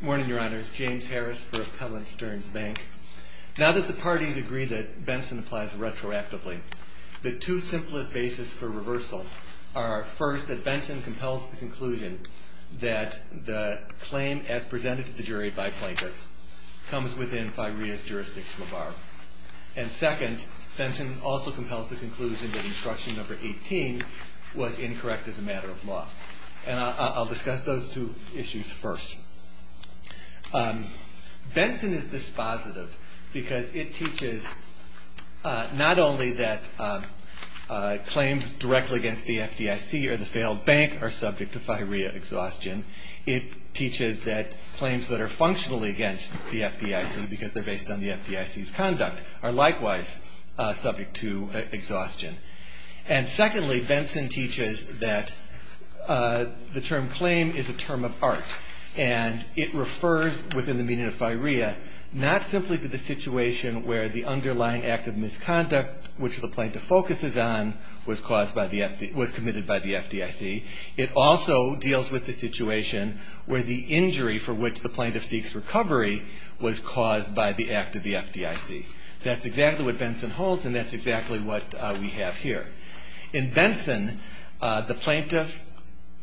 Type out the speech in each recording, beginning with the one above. Morning, Your Honors. James Harris for Appellant Stearns Bank. Now that the parties agree that Benson applies retroactively, the two simplest bases for reversal are, first, that Benson compels the conclusion that the claim as presented to the jury by plaintiff comes within FIREA's jurisdiction bar. And second, Benson also compels the conclusion that Instruction No. 18 was incorrect as a matter of law. And I'll discuss those two issues first. Benson is dispositive because it teaches not only that claims directly against the FDIC or the failed bank are subject to FIREA exhaustion, it teaches that claims that are functionally against the FDIC because they're based on the FDIC's conduct are likewise subject to exhaustion. And secondly, Benson teaches that the term claim is a term of art. And it refers, within the meaning of FIREA, not simply to the situation where the underlying act of misconduct, which the plaintiff focuses on, was committed by the FDIC. It also deals with the situation where the injury for which the plaintiff seeks recovery was caused by the act of the FDIC. That's exactly what Benson holds, and that's exactly what we have here. In Benson, the plaintiff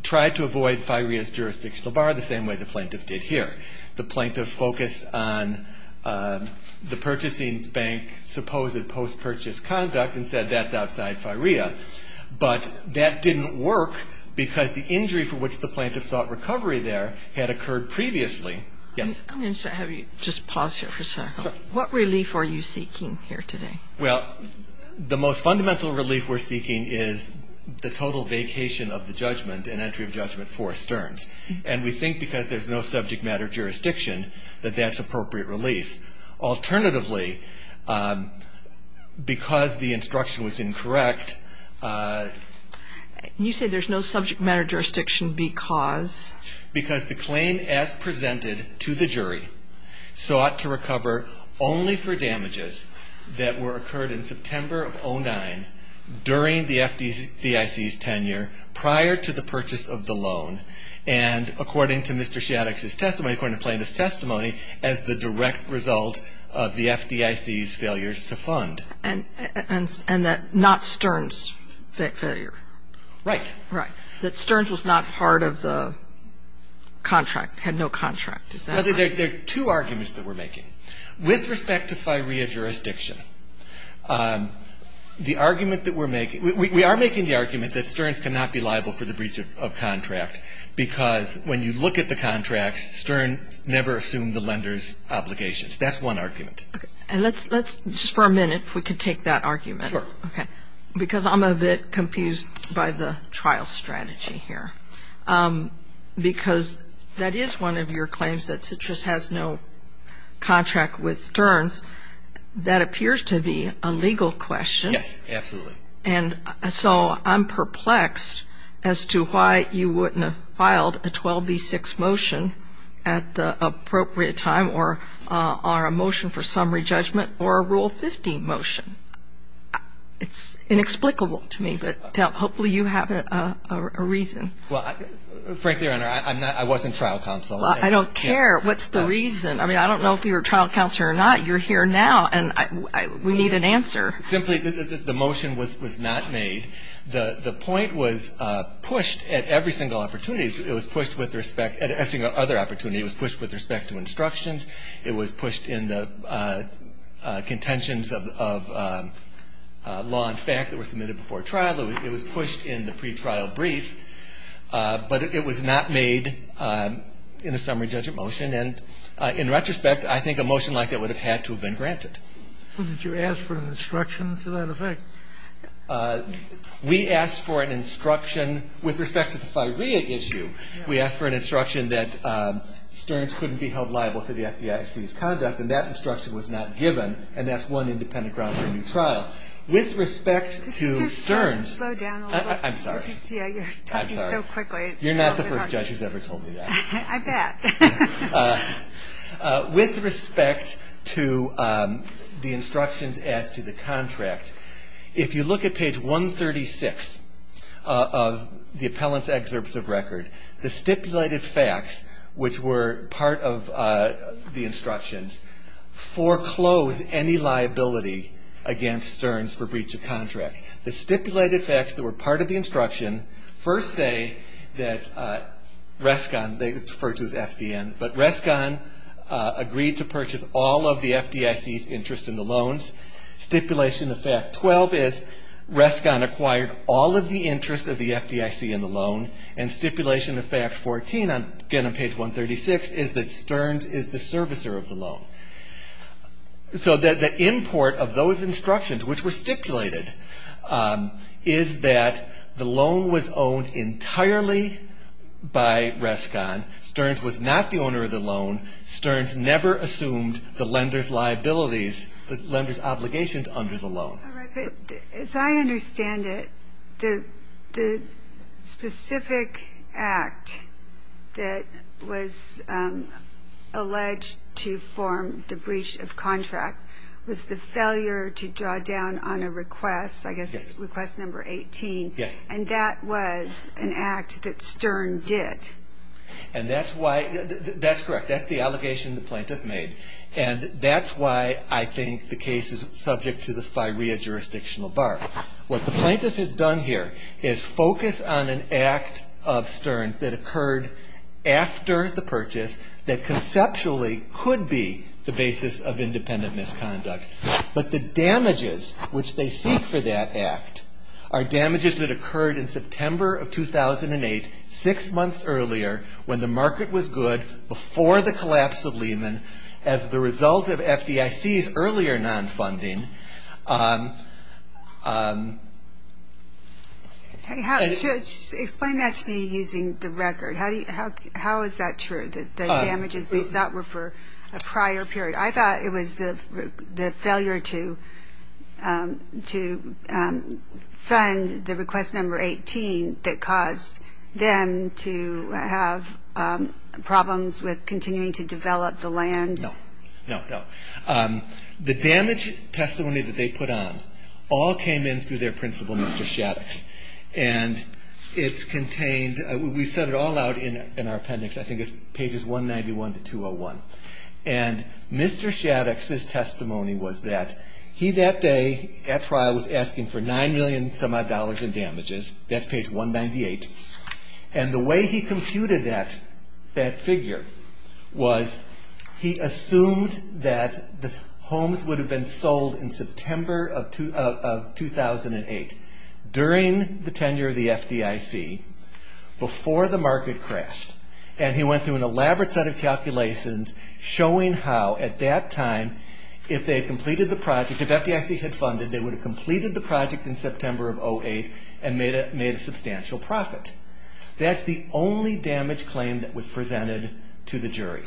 tried to avoid FIREA's jurisdictional bar the same way the plaintiff did here. The plaintiff focused on the purchasing bank's supposed post-purchase conduct and said that's outside FIREA. But that didn't work because the injury for which the plaintiff sought recovery there had occurred previously. I'm going to have you just pause here for a second. What relief are you seeking here today? Well, the most fundamental relief we're seeking is the total vacation of the judgment and entry of judgment for Stearns. And we think because there's no subject matter jurisdiction that that's appropriate relief. Alternatively, because the instruction was incorrect... You say there's no subject matter jurisdiction because... Because the claim as presented to the jury sought to recover only for damages that were occurred in September of 2009 during the FDIC's tenure prior to the purchase of the loan. And according to Mr. Shaddix's testimony, according to the plaintiff's testimony, as the direct result of the FDIC's failures to fund. And that not Stearns' failure. Right. Right. That Stearns was not part of the contract, had no contract. There are two arguments that we're making. With respect to FIREA jurisdiction, the argument that we're making, we are making the argument that Stearns cannot be liable for the breach of contract because when you look at the contracts, Stearns never assumed the lender's obligations. That's one argument. And let's, just for a minute, if we could take that argument. Sure. Because I'm a bit confused by the trial strategy here. Because that is one of your claims that Citrus has no contract with Stearns. That appears to be a legal question. Yes, absolutely. And so I'm perplexed as to why you wouldn't have filed a 12B6 motion at the appropriate time or a motion for summary judgment or a Rule 15 motion. It's inexplicable to me, but hopefully you have a reason. Well, frankly, Your Honor, I wasn't trial counsel. I don't care what's the reason. I mean, I don't know if you were trial counsel or not. You're here now, and we need an answer. Simply, the motion was not made. The point was pushed at every single opportunity. It was pushed with respect to other opportunities. It was pushed with respect to instructions. It was pushed in the contentions of law and fact that were submitted before trial. It was pushed in the pretrial brief. But it was not made in a summary judgment motion. And in retrospect, I think a motion like that would have had to have been granted. Well, did you ask for an instruction to that effect? We asked for an instruction with respect to the firea issue. We asked for an instruction that Stearns couldn't be held liable for the FDIC's conduct, and that instruction was not given. And that's one independent ground for a new trial. With respect to Stearns. Could you just slow down a little? I'm sorry. I just see how you're talking so quickly. You're not the first judge who's ever told me that. I bet. With respect to the instructions as to the contract, if you look at page 136 of the appellant's excerpts of record, the stipulated facts, which were part of the instructions, foreclose any liability against Stearns for breach of contract. The stipulated facts that were part of the instruction first say that Rescon, they refer to as FDN, but Rescon agreed to purchase all of the FDIC's interest in the loans. Stipulation of fact 12 is Rescon acquired all of the interest of the FDIC in the loan. And stipulation of fact 14, again on page 136, is that Stearns is the servicer of the loan. So the import of those instructions, which were stipulated, is that the loan was owned entirely by Rescon. Stearns was not the owner of the loan. Stearns never assumed the lender's liabilities, the lender's obligations under the loan. As I understand it, the specific act that was alleged to form the breach of contract was the failure to draw down on a request, I guess it's request number 18. Yes. And that was an act that Stearn did. And that's why, that's correct. That's the allegation the plaintiff made. And that's why I think the case is subject to the FIREA jurisdictional bar. What the plaintiff has done here is focus on an act of Stearns that occurred after the purchase that conceptually could be the basis of independent misconduct. But the damages which they seek for that act are damages that occurred in September of 2008, six months earlier, when the market was good, before the collapse of Lehman, as the result of FDIC's earlier non-funding. Explain that to me using the record. How is that true, that the damages they sought were for a prior period? I thought it was the failure to fund the request number 18 that caused them to have problems with continuing to develop the land. No. No, no. The damage testimony that they put on all came in through their principal, Mr. Shaddox. And it's contained, we set it all out in our appendix, I think it's pages 191 to 201. And Mr. Shaddox's testimony was that he that day at trial was asking for $9 million and some odd in damages. That's page 198. And the way he computed that figure was he assumed that the homes would have been sold in September of 2008, during the tenure of the FDIC, before the market crashed. And he went through an elaborate set of calculations showing how, at that time, if they had completed the project, if FDIC had funded, they would have completed the project in September of 2008 and made a substantial profit. That's the only damage claim that was presented to the jury.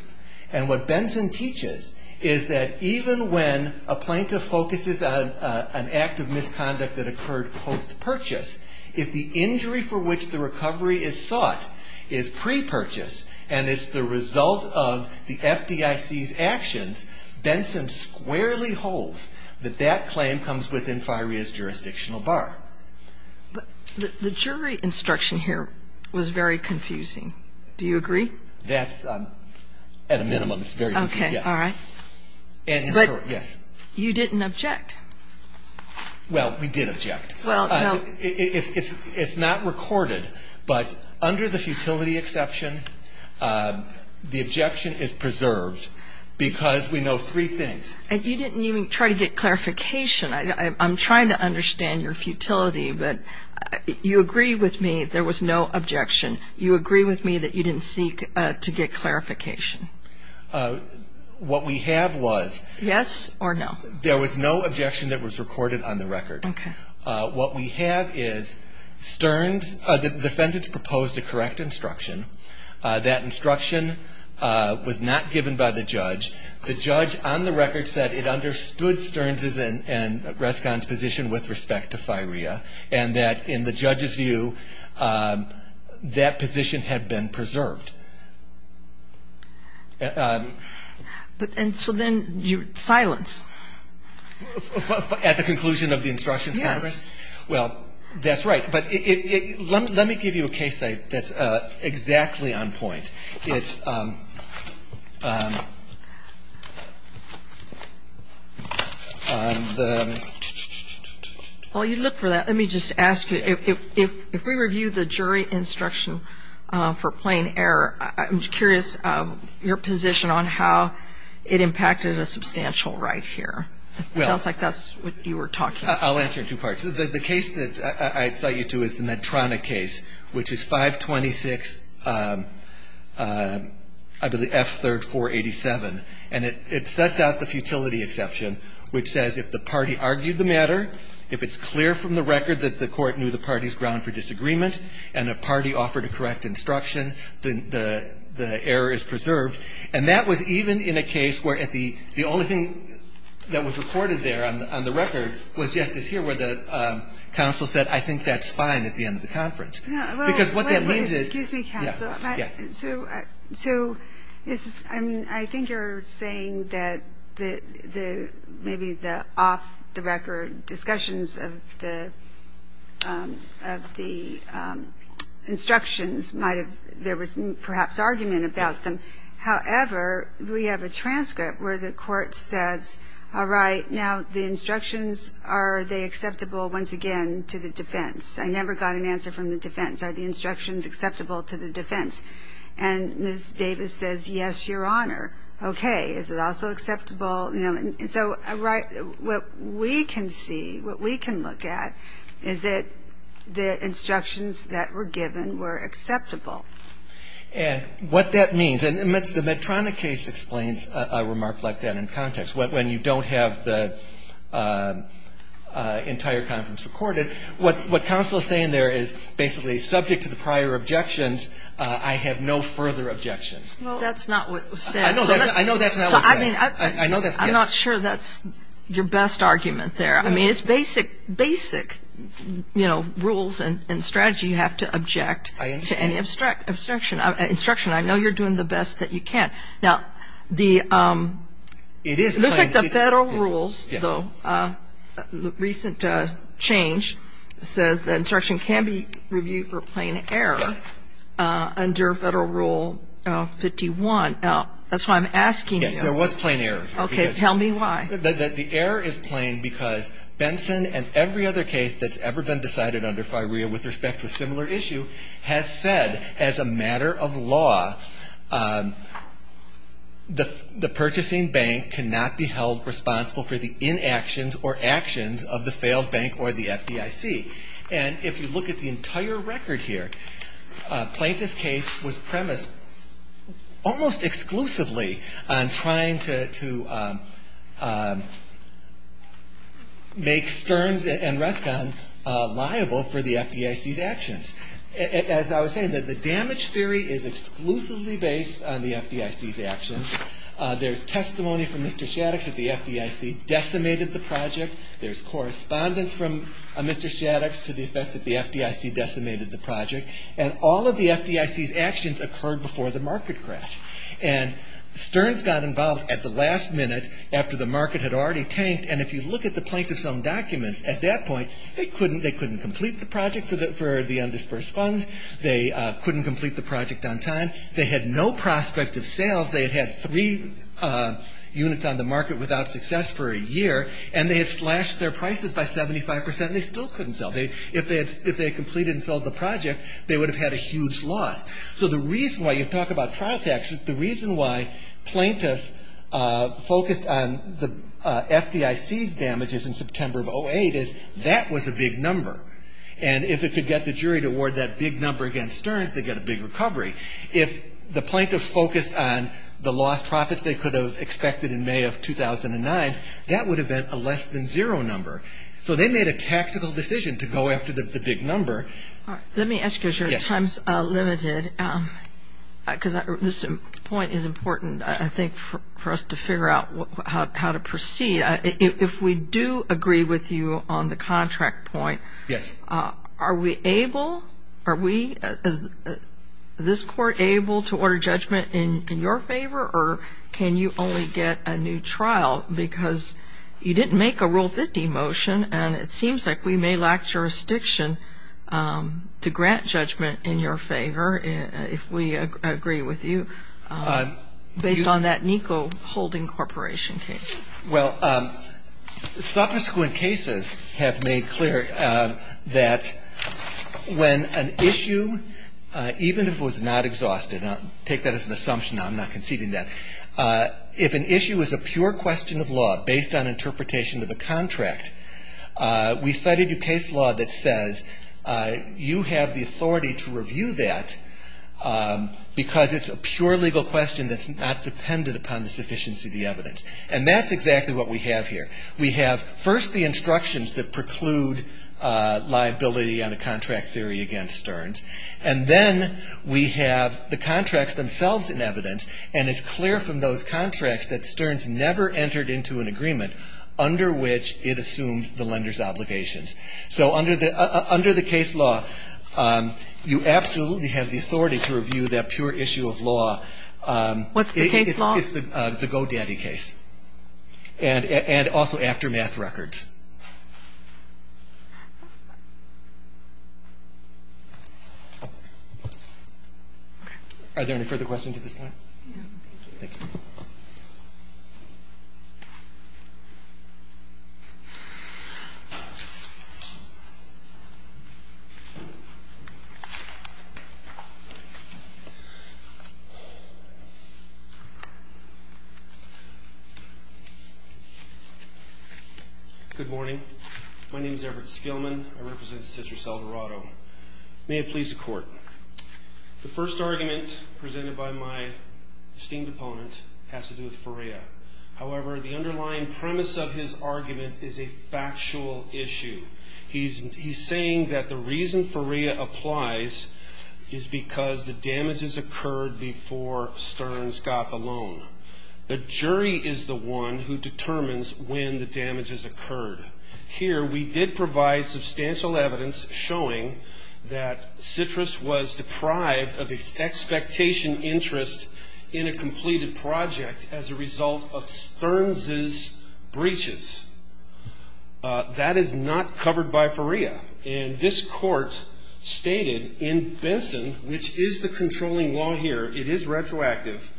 And what Benson teaches is that even when a plaintiff focuses on an act of misconduct that occurred post-purchase, if the injury for which the recovery is sought is pre-purchase and is the result of the FDIC's actions, Benson squarely holds that that claim comes within FIREA's jurisdictional bar. But the jury instruction here was very confusing. Do you agree? That's, at a minimum, it's very confusing, yes. Okay. All right. But you didn't object. Well, we did object. Well, no. It's not recorded. But under the futility exception, the objection is preserved because we know three things. And you didn't even try to get clarification. I'm trying to understand your futility, but you agree with me there was no objection. You agree with me that you didn't seek to get clarification. What we have was. Yes or no. There was no objection that was recorded on the record. Okay. What we have is Stearns, the defendant's proposed a correct instruction. That instruction was not given by the judge. The judge on the record said it understood Stearns' and Rescon's position with respect to FIREA and that in the judge's view that position had been preserved. And so then you silence. At the conclusion of the instructions, Congress? Yes. Well, that's right. But let me give you a case that's exactly on point. It's on the. While you look for that, let me just ask you, if we review the jury instruction for plain error, I'm curious your position on how it impacted a substantial right here. It sounds like that's what you were talking about. I'll answer in two parts. The case that I cite you to is the Medtronic case, which is 526, I believe, F3rd 487. And it sets out the futility exception, which says if the party argued the matter, if it's clear from the record that the court knew the party's ground for disagreement and the party offered a correct instruction, the error is preserved. And that was even in a case where the only thing that was recorded there on the record was just as here where the counsel said, I think that's fine at the end of the conference. Because what that means is. Excuse me, counsel. Yeah. So I think you're saying that maybe the off-the-record discussions of the instructions might have, there was perhaps argument about them. However, we have a transcript where the court says, all right, now the instructions, are they acceptable once again to the defense? I never got an answer from the defense. Are the instructions acceptable to the defense? And Ms. Davis says, yes, Your Honor. Okay. Is it also acceptable? And so what we can see, what we can look at, is that the instructions that were given were acceptable. And what that means, and the Medtronic case explains a remark like that in context. When you don't have the entire conference recorded, what counsel is saying there is basically subject to the prior objections, I have no further objections. Well, that's not what was said. I know that's not what was said. I'm not sure that's your best argument there. I mean, it's basic, you know, rules and strategy you have to object to any obstruction. Instruction, I know you're doing the best that you can. Now, it looks like the Federal rules, though, the recent change says that instruction can be reviewed for plain error under Federal Rule 51. That's why I'm asking you. Yes, there was plain error. Okay. Tell me why. The error is plain because Benson and every other case that's ever been decided under FIREA with respect to a similar issue has said, as a matter of law, the purchasing bank cannot be held responsible for the inactions or actions of the failed bank or the FDIC. And if you look at the entire record here, Plaintiff's case was premised almost exclusively on trying to make Stearns and Rescon liable for the FDIC's actions. As I was saying, the damage theory is exclusively based on the FDIC's actions. There's testimony from Mr. Shaddix that the FDIC decimated the project. There's correspondence from Mr. Shaddix to the effect that the FDIC decimated the project. And all of the FDIC's actions occurred before the market crash. And Stearns got involved at the last minute after the market had already tanked. And if you look at the Plaintiff's own documents, at that point, they couldn't complete the project for the undisbursed funds. They couldn't complete the project on time. They had no prospect of sales. They had had three units on the market without success for a year. And they had slashed their prices by 75%. They still couldn't sell. If they had completed and sold the project, they would have had a huge loss. So the reason why you talk about trial taxes, the reason why Plaintiff focused on the FDIC's damages in September of 2008 is that was a big number. And if it could get the jury to award that big number against Stearns, they'd get a big recovery. If the Plaintiff focused on the lost profits they could have expected in May of 2009, that would have been a less than zero number. So they made a tactical decision to go after the big number. Let me ask you, because your time is limited, because this point is important, I think, for us to figure out how to proceed. If we do agree with you on the contract point, are we able, are we, is this court able to order judgment in your favor or can you only get a new trial because you didn't make a Rule 50 motion and it seems like we may lack jurisdiction to grant judgment in your favor if we agree with you based on that NICO holding corporation case. Well, subsequent cases have made clear that when an issue, even if it was not exhausted, and I'll take that as an assumption, I'm not conceding that, if an issue is a pure question of law based on interpretation of a contract, we cited a case law that says you have the authority to review that because it's a pure legal question that's not dependent upon the sufficiency of the evidence. And that's exactly what we have here. We have first the instructions that preclude liability on a contract theory against Stearns. And then we have the contracts themselves in evidence. And it's clear from those contracts that Stearns never entered into an agreement under which it assumed the lender's obligations. So under the case law, you absolutely have the authority to review that pure issue of law. What's the case law? It's the Go Daddy case. And also aftermath records. Are there any further questions at this point? No. Thank you. Good morning. My name is Everett Skillman. I represent Citrus, El Dorado. May it please the Court. The first argument presented by my esteemed opponent has to do with Ferea. However, the underlying premise of his argument is a factual issue. He's saying that the reason Ferea applies is because the damages occurred before Stearns got the loan. The jury is the one who determines when the damages occurred. Here we did provide substantial evidence showing that Citrus was deprived of expectation interest in a completed project as a result of Stearns' breaches. That is not covered by Ferea. And this Court stated in Benson, which is the controlling law here, it is retroactive,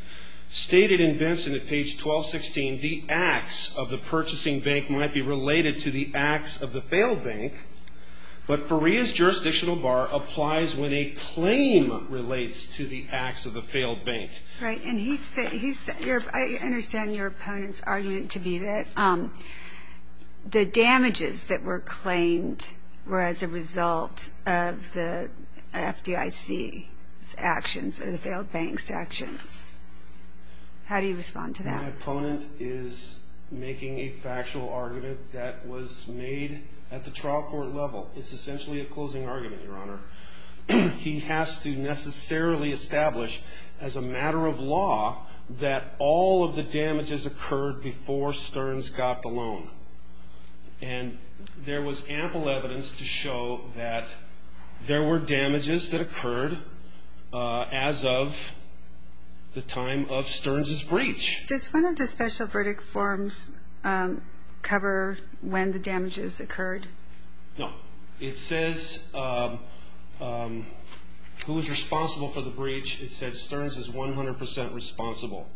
stated in Benson at page 1216, the acts of the purchasing bank might be related to the acts of the failed bank, but Ferea's jurisdictional bar applies when a claim relates to the acts of the failed bank. Right. And I understand your opponent's argument to be that the damages that were claimed were as a result of the FDIC's actions or the failed bank's actions. How do you respond to that? My opponent is making a factual argument that was made at the trial court level. It's essentially a closing argument, Your Honor. He has to necessarily establish as a matter of law that all of the damages occurred before Stearns got the loan. And there was ample evidence to show that there were damages that occurred as of the time of Stearns' breach. Does one of the special verdict forms cover when the damages occurred? No. It says who is responsible for the breach. It says Stearns is 100 percent responsible.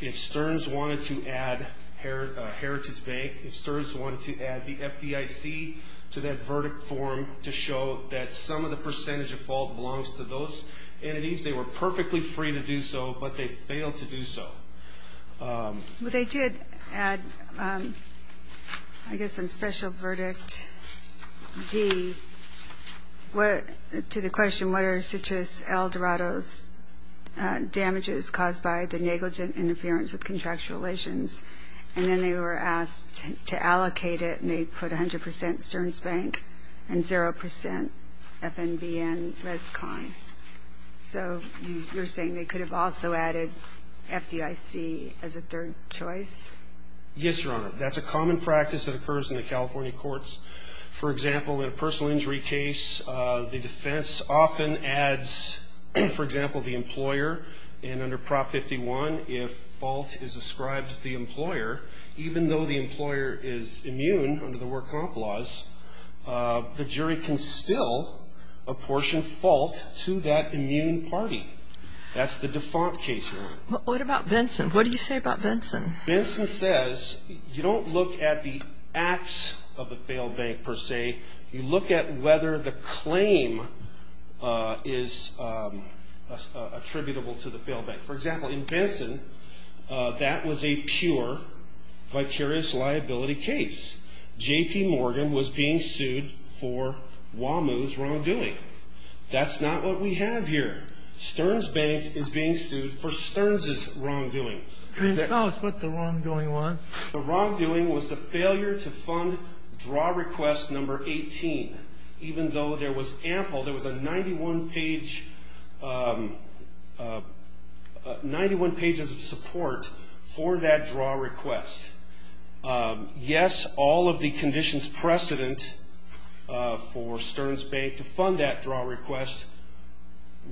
If Stearns wanted to add Heritage Bank, if Stearns wanted to add the FDIC to that verdict form to show that some of the percentage of fault belongs to those entities, they were perfectly free to do so, but they failed to do so. Well, they did add, I guess, on special verdict D, to the question, what are Citrus L. Dorado's damages caused by the negligent interference with contractual relations? And then they were asked to allocate it, and they put 100 percent Stearns Bank and 0 percent FNBN Rescon. So you're saying they could have also added FDIC as a third choice? Yes, Your Honor. That's a common practice that occurs in the California courts. For example, in a personal injury case, the defense often adds, for example, the employer. And under Prop 51, if fault is ascribed to the employer, even though the employer is immune under the work comp laws, the jury can still apportion fault to that immune party. That's the default case, Your Honor. What about Benson? What do you say about Benson? Benson says you don't look at the acts of the failed bank, per se. You look at whether the claim is attributable to the failed bank. For example, in Benson, that was a pure vicarious liability case. J.P. Morgan was being sued for Wamu's wrongdoing. That's not what we have here. Stearns Bank is being sued for Stearns' wrongdoing. Tell us what the wrongdoing was. The wrongdoing was the failure to fund draw request number 18. Even though there was ample, there was a 91 page, 91 pages of support for that draw request. Yes, all of the conditions precedent for Stearns Bank to fund that draw request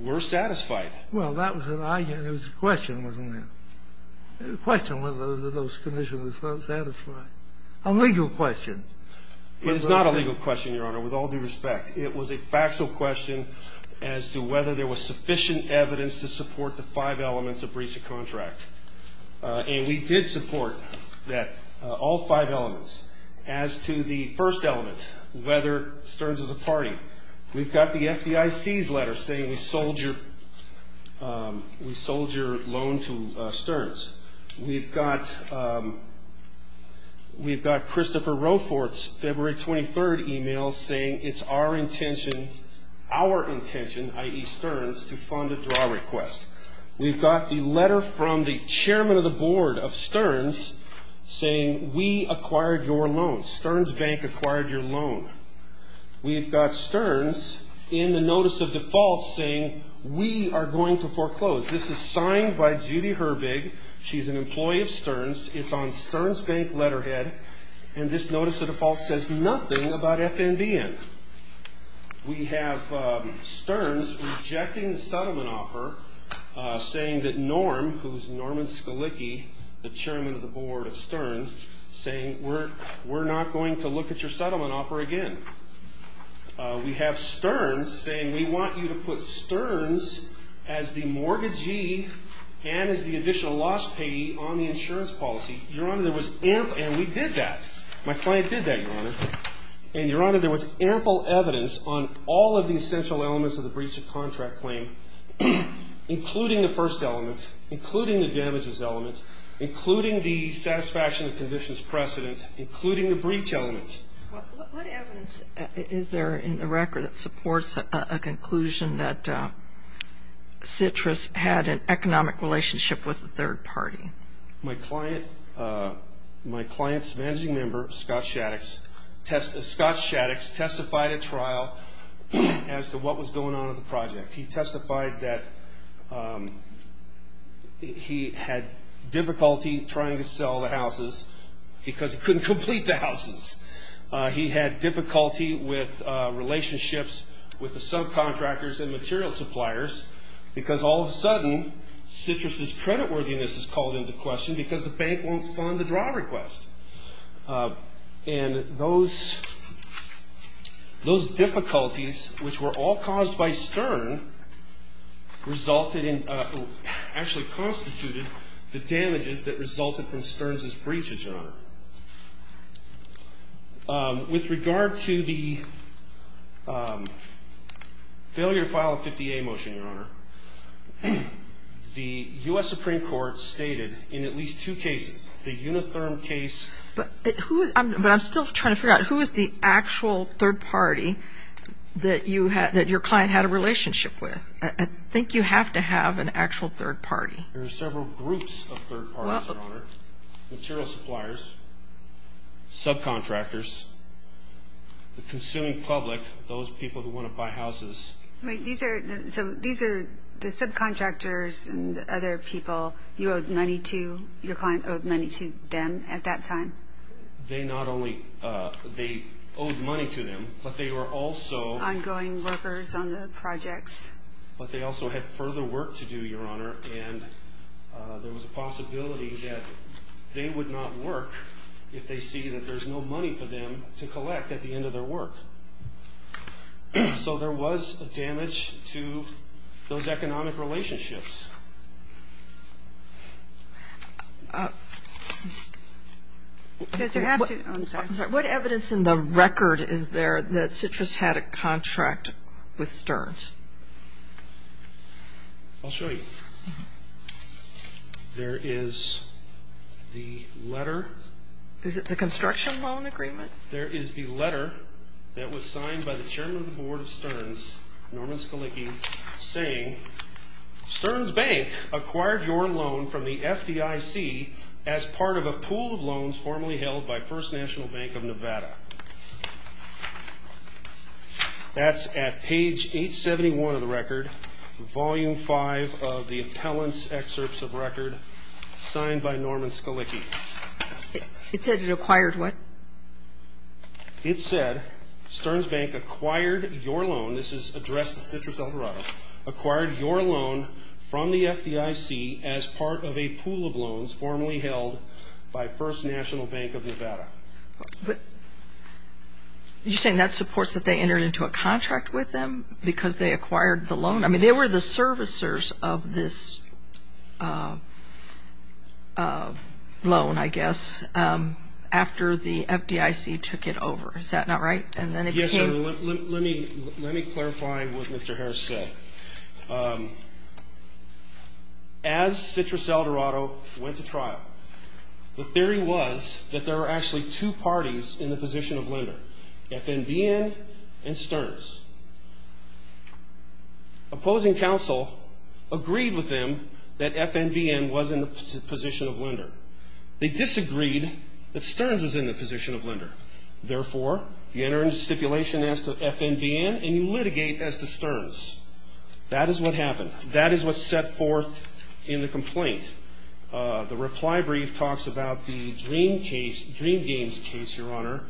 were satisfied. Well, that was a question, wasn't it? A question whether those conditions were satisfied. A legal question. It is not a legal question, Your Honor, with all due respect. It was a factual question as to whether there was sufficient evidence to support the five elements of breach of contract. And we did support that, all five elements. As to the first element, whether Stearns is a party, we've got the FDIC's letter saying we sold your loan to Stearns. We've got Christopher Roefort's February 23rd email saying it's our intention, i.e. Stearns, to fund a draw request. We've got the letter from the chairman of the board of Stearns saying we acquired your loan. Stearns Bank acquired your loan. We've got Stearns in the notice of default saying we are going to foreclose. This is signed by Judy Herbig. She's an employee of Stearns. It's on Stearns Bank letterhead. And this notice of default says nothing about FNBN. We have Stearns rejecting the settlement offer saying that Norm, who's Norman Skalicki, the chairman of the board of Stearns, saying we're not going to look at your settlement offer again. We have Stearns saying we want you to put Stearns as the mortgagee and as the additional loss payee on the insurance policy. Your Honor, there was ample – and we did that. My client did that, Your Honor. And, Your Honor, there was ample evidence on all of the essential elements of the breach of contract claim, including the first element, including the damages element, including the satisfaction of conditions precedent, including the breach element. What evidence is there in the record that supports a conclusion that Citrus had an economic relationship with a third party? My client's managing member, Scott Shaddix, testified at trial as to what was going on in the project. He testified that he had difficulty trying to sell the houses because he couldn't complete the houses. He had difficulty with relationships with the subcontractors and material suppliers because all of a sudden Citrus's creditworthiness is called into question because the bank won't fund the draw request. And those difficulties, which were all caused by Stearn, resulted in – actually constituted the damages that resulted from Stearns' breach, Your Honor. With regard to the failure to file a 50A motion, Your Honor, the U.S. Supreme Court stated in at least two cases, the Unitherm case – But who – but I'm still trying to figure out, who is the actual third party that you – that your client had a relationship with? I think you have to have an actual third party. There are several groups of third parties, Your Honor. Material suppliers, subcontractors, the consuming public, those people who want to buy houses. Wait, these are – so these are the subcontractors and other people you owed money to, your client owed money to them at that time? They not only – they owed money to them, but they were also – Ongoing workers on the projects. But they also had further work to do, Your Honor, and there was a possibility that they would not work if they see that there's no money for them to collect at the end of their work. So there was damage to those economic relationships. Does it have to – I'm sorry. What evidence in the record is there that Citrus had a contract with Sterns? I'll show you. There is the letter. Is it the construction loan agreement? There is the letter that was signed by the chairman of the board of Sterns, Norman Scalicchi, saying, Sterns Bank acquired your loan from the FDIC as part of a pool of loans formerly held by First National Bank of Nevada. That's at page 871 of the record, volume 5 of the appellant's excerpts of record, signed by Norman Scalicchi. It said it acquired what? It said, Sterns Bank acquired your loan. This is addressed to Citrus El Dorado. Acquired your loan from the FDIC as part of a pool of loans formerly held by First National Bank of Nevada. You're saying that supports that they entered into a contract with them because they acquired the loan? I mean, they were the servicers of this loan, I guess, after the FDIC took it over. Is that not right? Yes, sir. Let me clarify what Mr. Harris said. As Citrus El Dorado went to trial, the theory was that there were actually two parties in the position of lender, FNBN and Sterns. The opposing counsel agreed with them that FNBN was in the position of lender. They disagreed that Sterns was in the position of lender. Therefore, you enter into stipulation as to FNBN and you litigate as to Sterns. That is what happened. That is what's set forth in the complaint. The reply brief talks about the Dream Games case, Your Honor,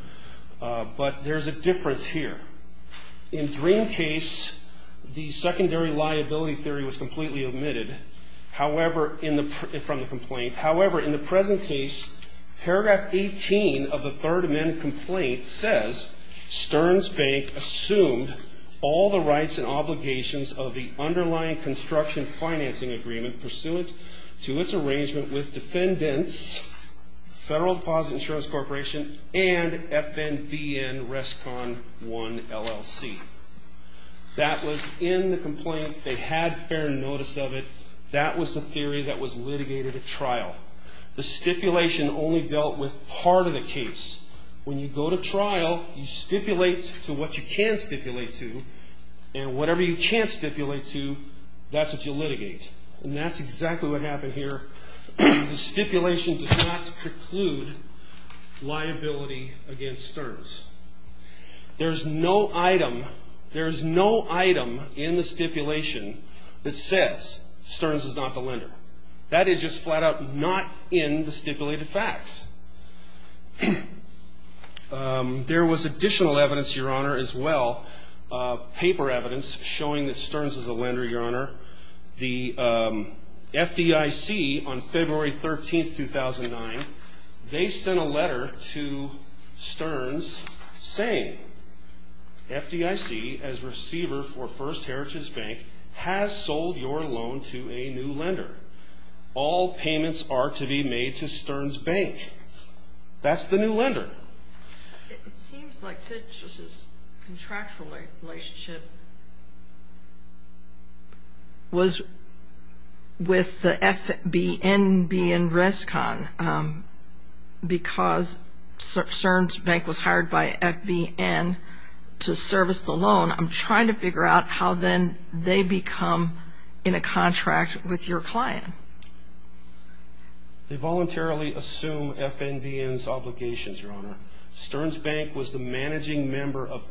but there's a difference here. In Dream case, the secondary liability theory was completely omitted from the complaint. However, in the present case, paragraph 18 of the Third Amendment complaint says, Sterns Bank assumed all the rights and obligations of the underlying construction financing agreement pursuant to its arrangement with That was in the complaint. They had fair notice of it. That was the theory that was litigated at trial. The stipulation only dealt with part of the case. When you go to trial, you stipulate to what you can stipulate to, and whatever you can't stipulate to, that's what you litigate. And that's exactly what happened here. The stipulation does not preclude liability against Sterns. There's no item, there's no item in the stipulation that says Sterns is not the lender. That is just flat out not in the stipulated facts. There was additional evidence, Your Honor, as well, paper evidence showing that Sterns is a lender, Your Honor. The FDIC, on February 13, 2009, they sent a letter to Sterns saying, FDIC, as receiver for First Heritage Bank, has sold your loan to a new lender. All payments are to be made to Sterns Bank. It seems like Citrus's contractual relationship was with the FBNBN Rescon because Sterns Bank was hired by FBN to service the loan. I'm trying to figure out how, then, they become in a contract with your client. They voluntarily assume FBNBN's obligations, Your Honor. Sterns Bank was the managing member of...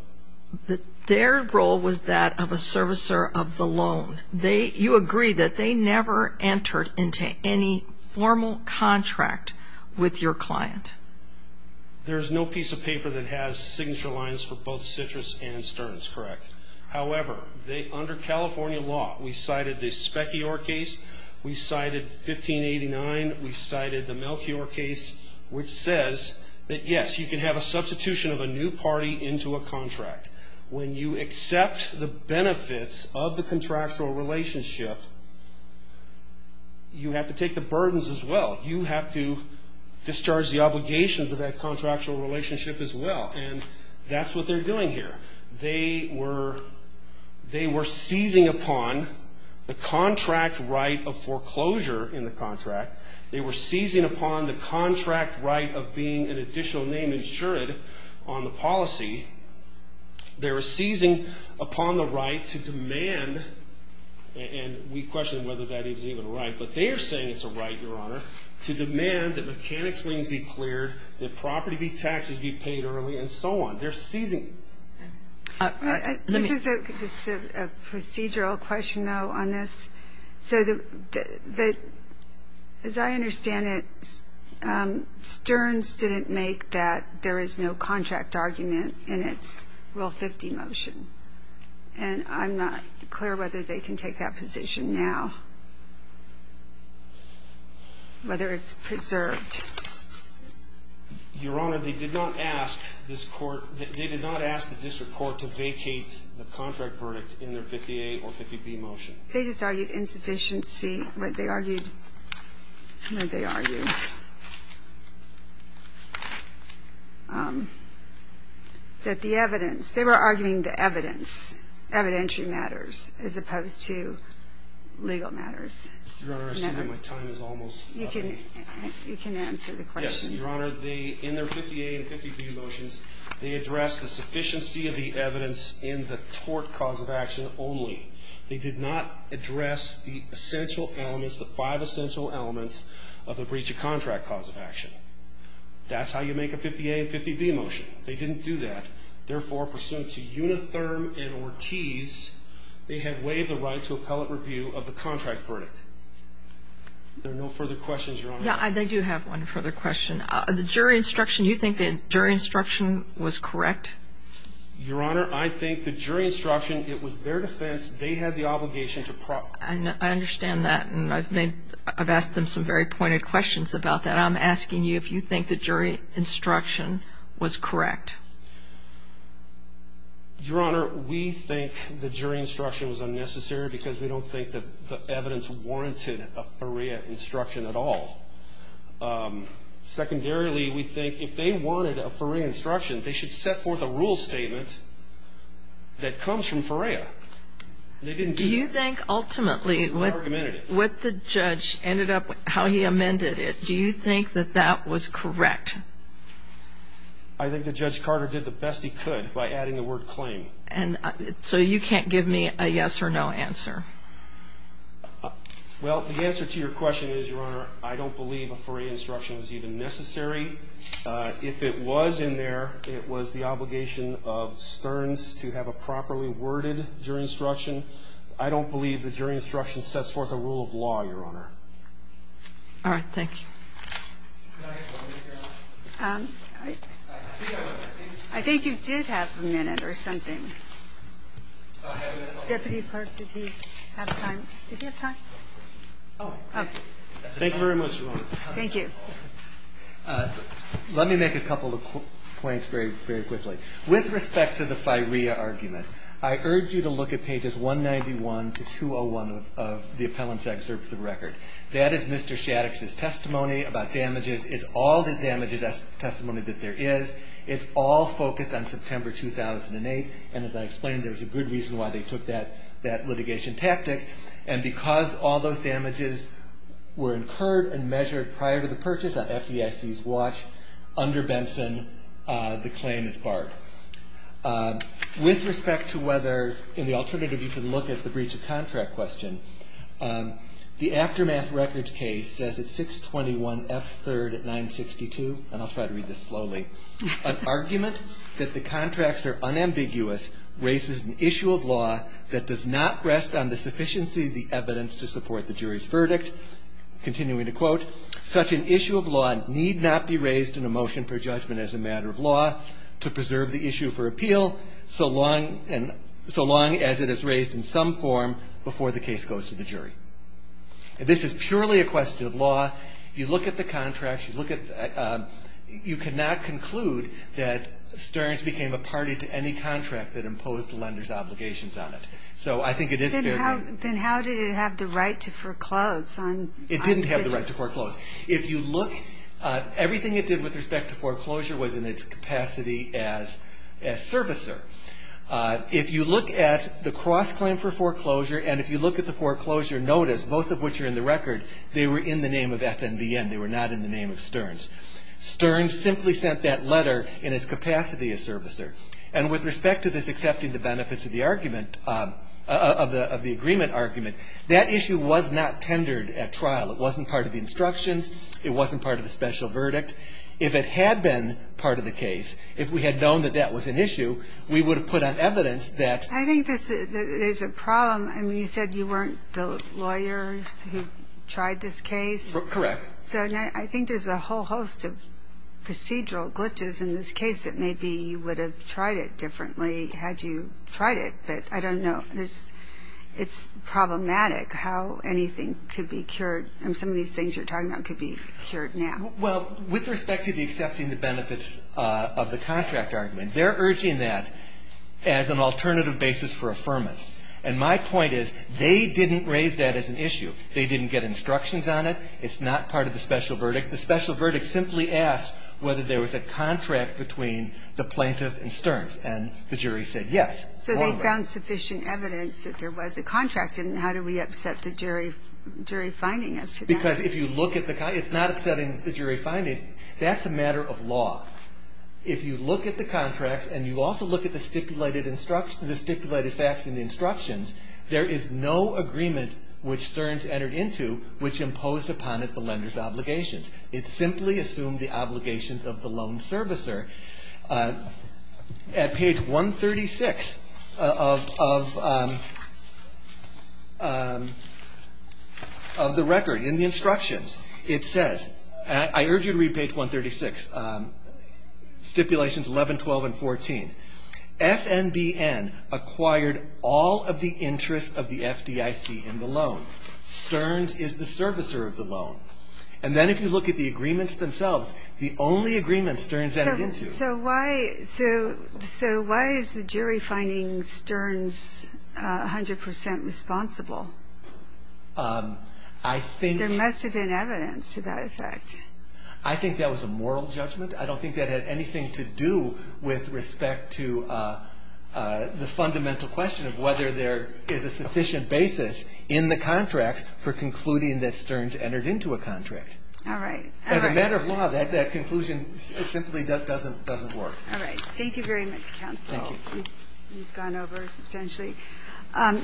Their role was that of a servicer of the loan. You agree that they never entered into any formal contract with your client. There's no piece of paper that has signature lines for both Citrus and Sterns, correct? However, under California law, we cited the Specchior case. We cited 1589. We cited the Melchior case, which says that, yes, you can have a substitution of a new party into a contract. When you accept the benefits of the contractual relationship, you have to take the burdens as well. You have to discharge the obligations of that contractual relationship as well, and that's what they're doing here. They were seizing upon the contract right of foreclosure in the contract. They were seizing upon the contract right of being an additional name insured on the policy. They were seizing upon the right to demand, and we questioned whether that is even a right, but they are saying it's a right, Your Honor, to demand that mechanics liens be cleared, that property taxes be paid early, and so on. They're seizing. This is a procedural question, though, on this. So as I understand it, Sterns didn't make that there is no contract argument in its Rule 50 motion, and I'm not clear whether they can take that position now, whether it's preserved. Your Honor, they did not ask the district court to vacate the contract verdict in their 50A or 50B motion. They just argued insufficiency. They were arguing the evidence, evidentiary matters, as opposed to legal matters. Your Honor, I see that my time is almost up. You can answer the question. Yes, Your Honor. In their 50A and 50B motions, they addressed the sufficiency of the evidence in the tort cause of action only. They did not address the essential elements, the five essential elements of the breach of contract cause of action. That's how you make a 50A and 50B motion. They didn't do that. Therefore, pursuant to Unitherm and Ortiz, they have waived the right to appellate review of the contract verdict. There are no further questions, Your Honor. Yeah, I do have one further question. The jury instruction, you think the jury instruction was correct? Your Honor, I think the jury instruction, it was their defense. They had the obligation to pro- I understand that, and I've asked them some very pointed questions about that. I'm asking you if you think the jury instruction was correct. Your Honor, we think the jury instruction was unnecessary because we don't think the evidence warranted a FOREA instruction at all. Secondarily, we think if they wanted a FOREA instruction, they should set forth a rule statement that comes from FOREA. They didn't do that. Do you think ultimately what the judge ended up, how he amended it, do you think that that was correct? I think that Judge Carter did the best he could by adding the word claim. So you can't give me a yes or no answer? Well, the answer to your question is, Your Honor, I don't believe a FOREA instruction was even necessary. If it was in there, it was the obligation of Stearns to have a properly worded jury instruction. I don't believe the jury instruction sets forth a rule of law, Your Honor. All right. Thank you. I think you did have a minute or something. Deputy Park, did he have time? Did he have time? Thank you very much, Your Honor. Thank you. Let me make a couple of points very, very quickly. With respect to the FOREA argument, I urge you to look at pages 191 to 201 of the appellant's excerpt of the record. That is Mr. Shattuck's testimony about damages. It's all the damages testimony that there is. It's all focused on September 2008, and as I explained, there's a good reason why they took that litigation tactic. And because all those damages were incurred and measured prior to the purchase on FDIC's watch under Benson, the claim is barred. With respect to whether in the alternative you can look at the breach of contract question, the aftermath records case says at 621 F3rd at 962, and I'll try to read this slowly, an argument that the contracts are unambiguous raises an issue of law that does not rest on the sufficiency of the evidence to support the jury's verdict, continuing to quote, such an issue of law need not be raised in a motion for judgment as a matter of law to preserve the issue for appeal so long as it is raised in some form before the case goes to the jury. This is purely a question of law. You look at the contracts. You look at the you cannot conclude that Stearns became a party to any contract that imposed the lender's obligations on it. So I think it is fair to say. Then how did it have the right to foreclose? It didn't have the right to foreclose. If you look, everything it did with respect to foreclosure was in its capacity as servicer. If you look at the cross-claim for foreclosure and if you look at the foreclosure notice, both of which are in the record, they were in the name of FNBN. They were not in the name of Stearns. Stearns simply sent that letter in its capacity as servicer. And with respect to this accepting the benefits of the argument, of the agreement argument, that issue was not tendered at trial. It wasn't part of the instructions. It wasn't part of the special verdict. If it had been part of the case, if we had known that that was an issue, we would have put on evidence that. I think there's a problem. I mean, you said you weren't the lawyer who tried this case. Correct. So I think there's a whole host of procedural glitches in this case that maybe you would have tried it differently had you tried it. But I don't know. It's problematic how anything could be cured. I mean, some of these things you're talking about could be cured now. Well, with respect to the accepting the benefits of the contract argument, they're urging that as an alternative basis for affirmance. And my point is they didn't raise that as an issue. They didn't get instructions on it. It's not part of the special verdict. The special verdict simply asked whether there was a contract between the plaintiff and Stearns. And the jury said yes. So they found sufficient evidence that there was a contract. And how do we upset the jury finding as to that? Because if you look at the contract, it's not upsetting the jury finding. That's a matter of law. If you look at the contracts and you also look at the stipulated facts and instructions, there is no agreement which Stearns entered into which imposed upon it the lender's obligations. It simply assumed the obligations of the loan servicer. At page 136 of the record, in the instructions, it says, and I urge you to read page 136, stipulations 11, 12, and 14. FNBN acquired all of the interests of the FDIC in the loan. Stearns is the servicer of the loan. And then if you look at the agreements themselves, the only agreement Stearns entered into. So why is the jury finding Stearns 100% responsible? I think there must have been evidence to that effect. I think that was a moral judgment. I don't think that had anything to do with respect to the fundamental question of whether there is a sufficient basis in the contracts for concluding that Stearns entered into a contract. All right. As a matter of law, that conclusion simply doesn't work. All right. Thank you very much, counsel. Thank you. You've gone over substantially.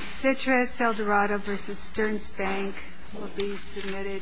Citrus Eldorado v. Stearns Bank will be submitted.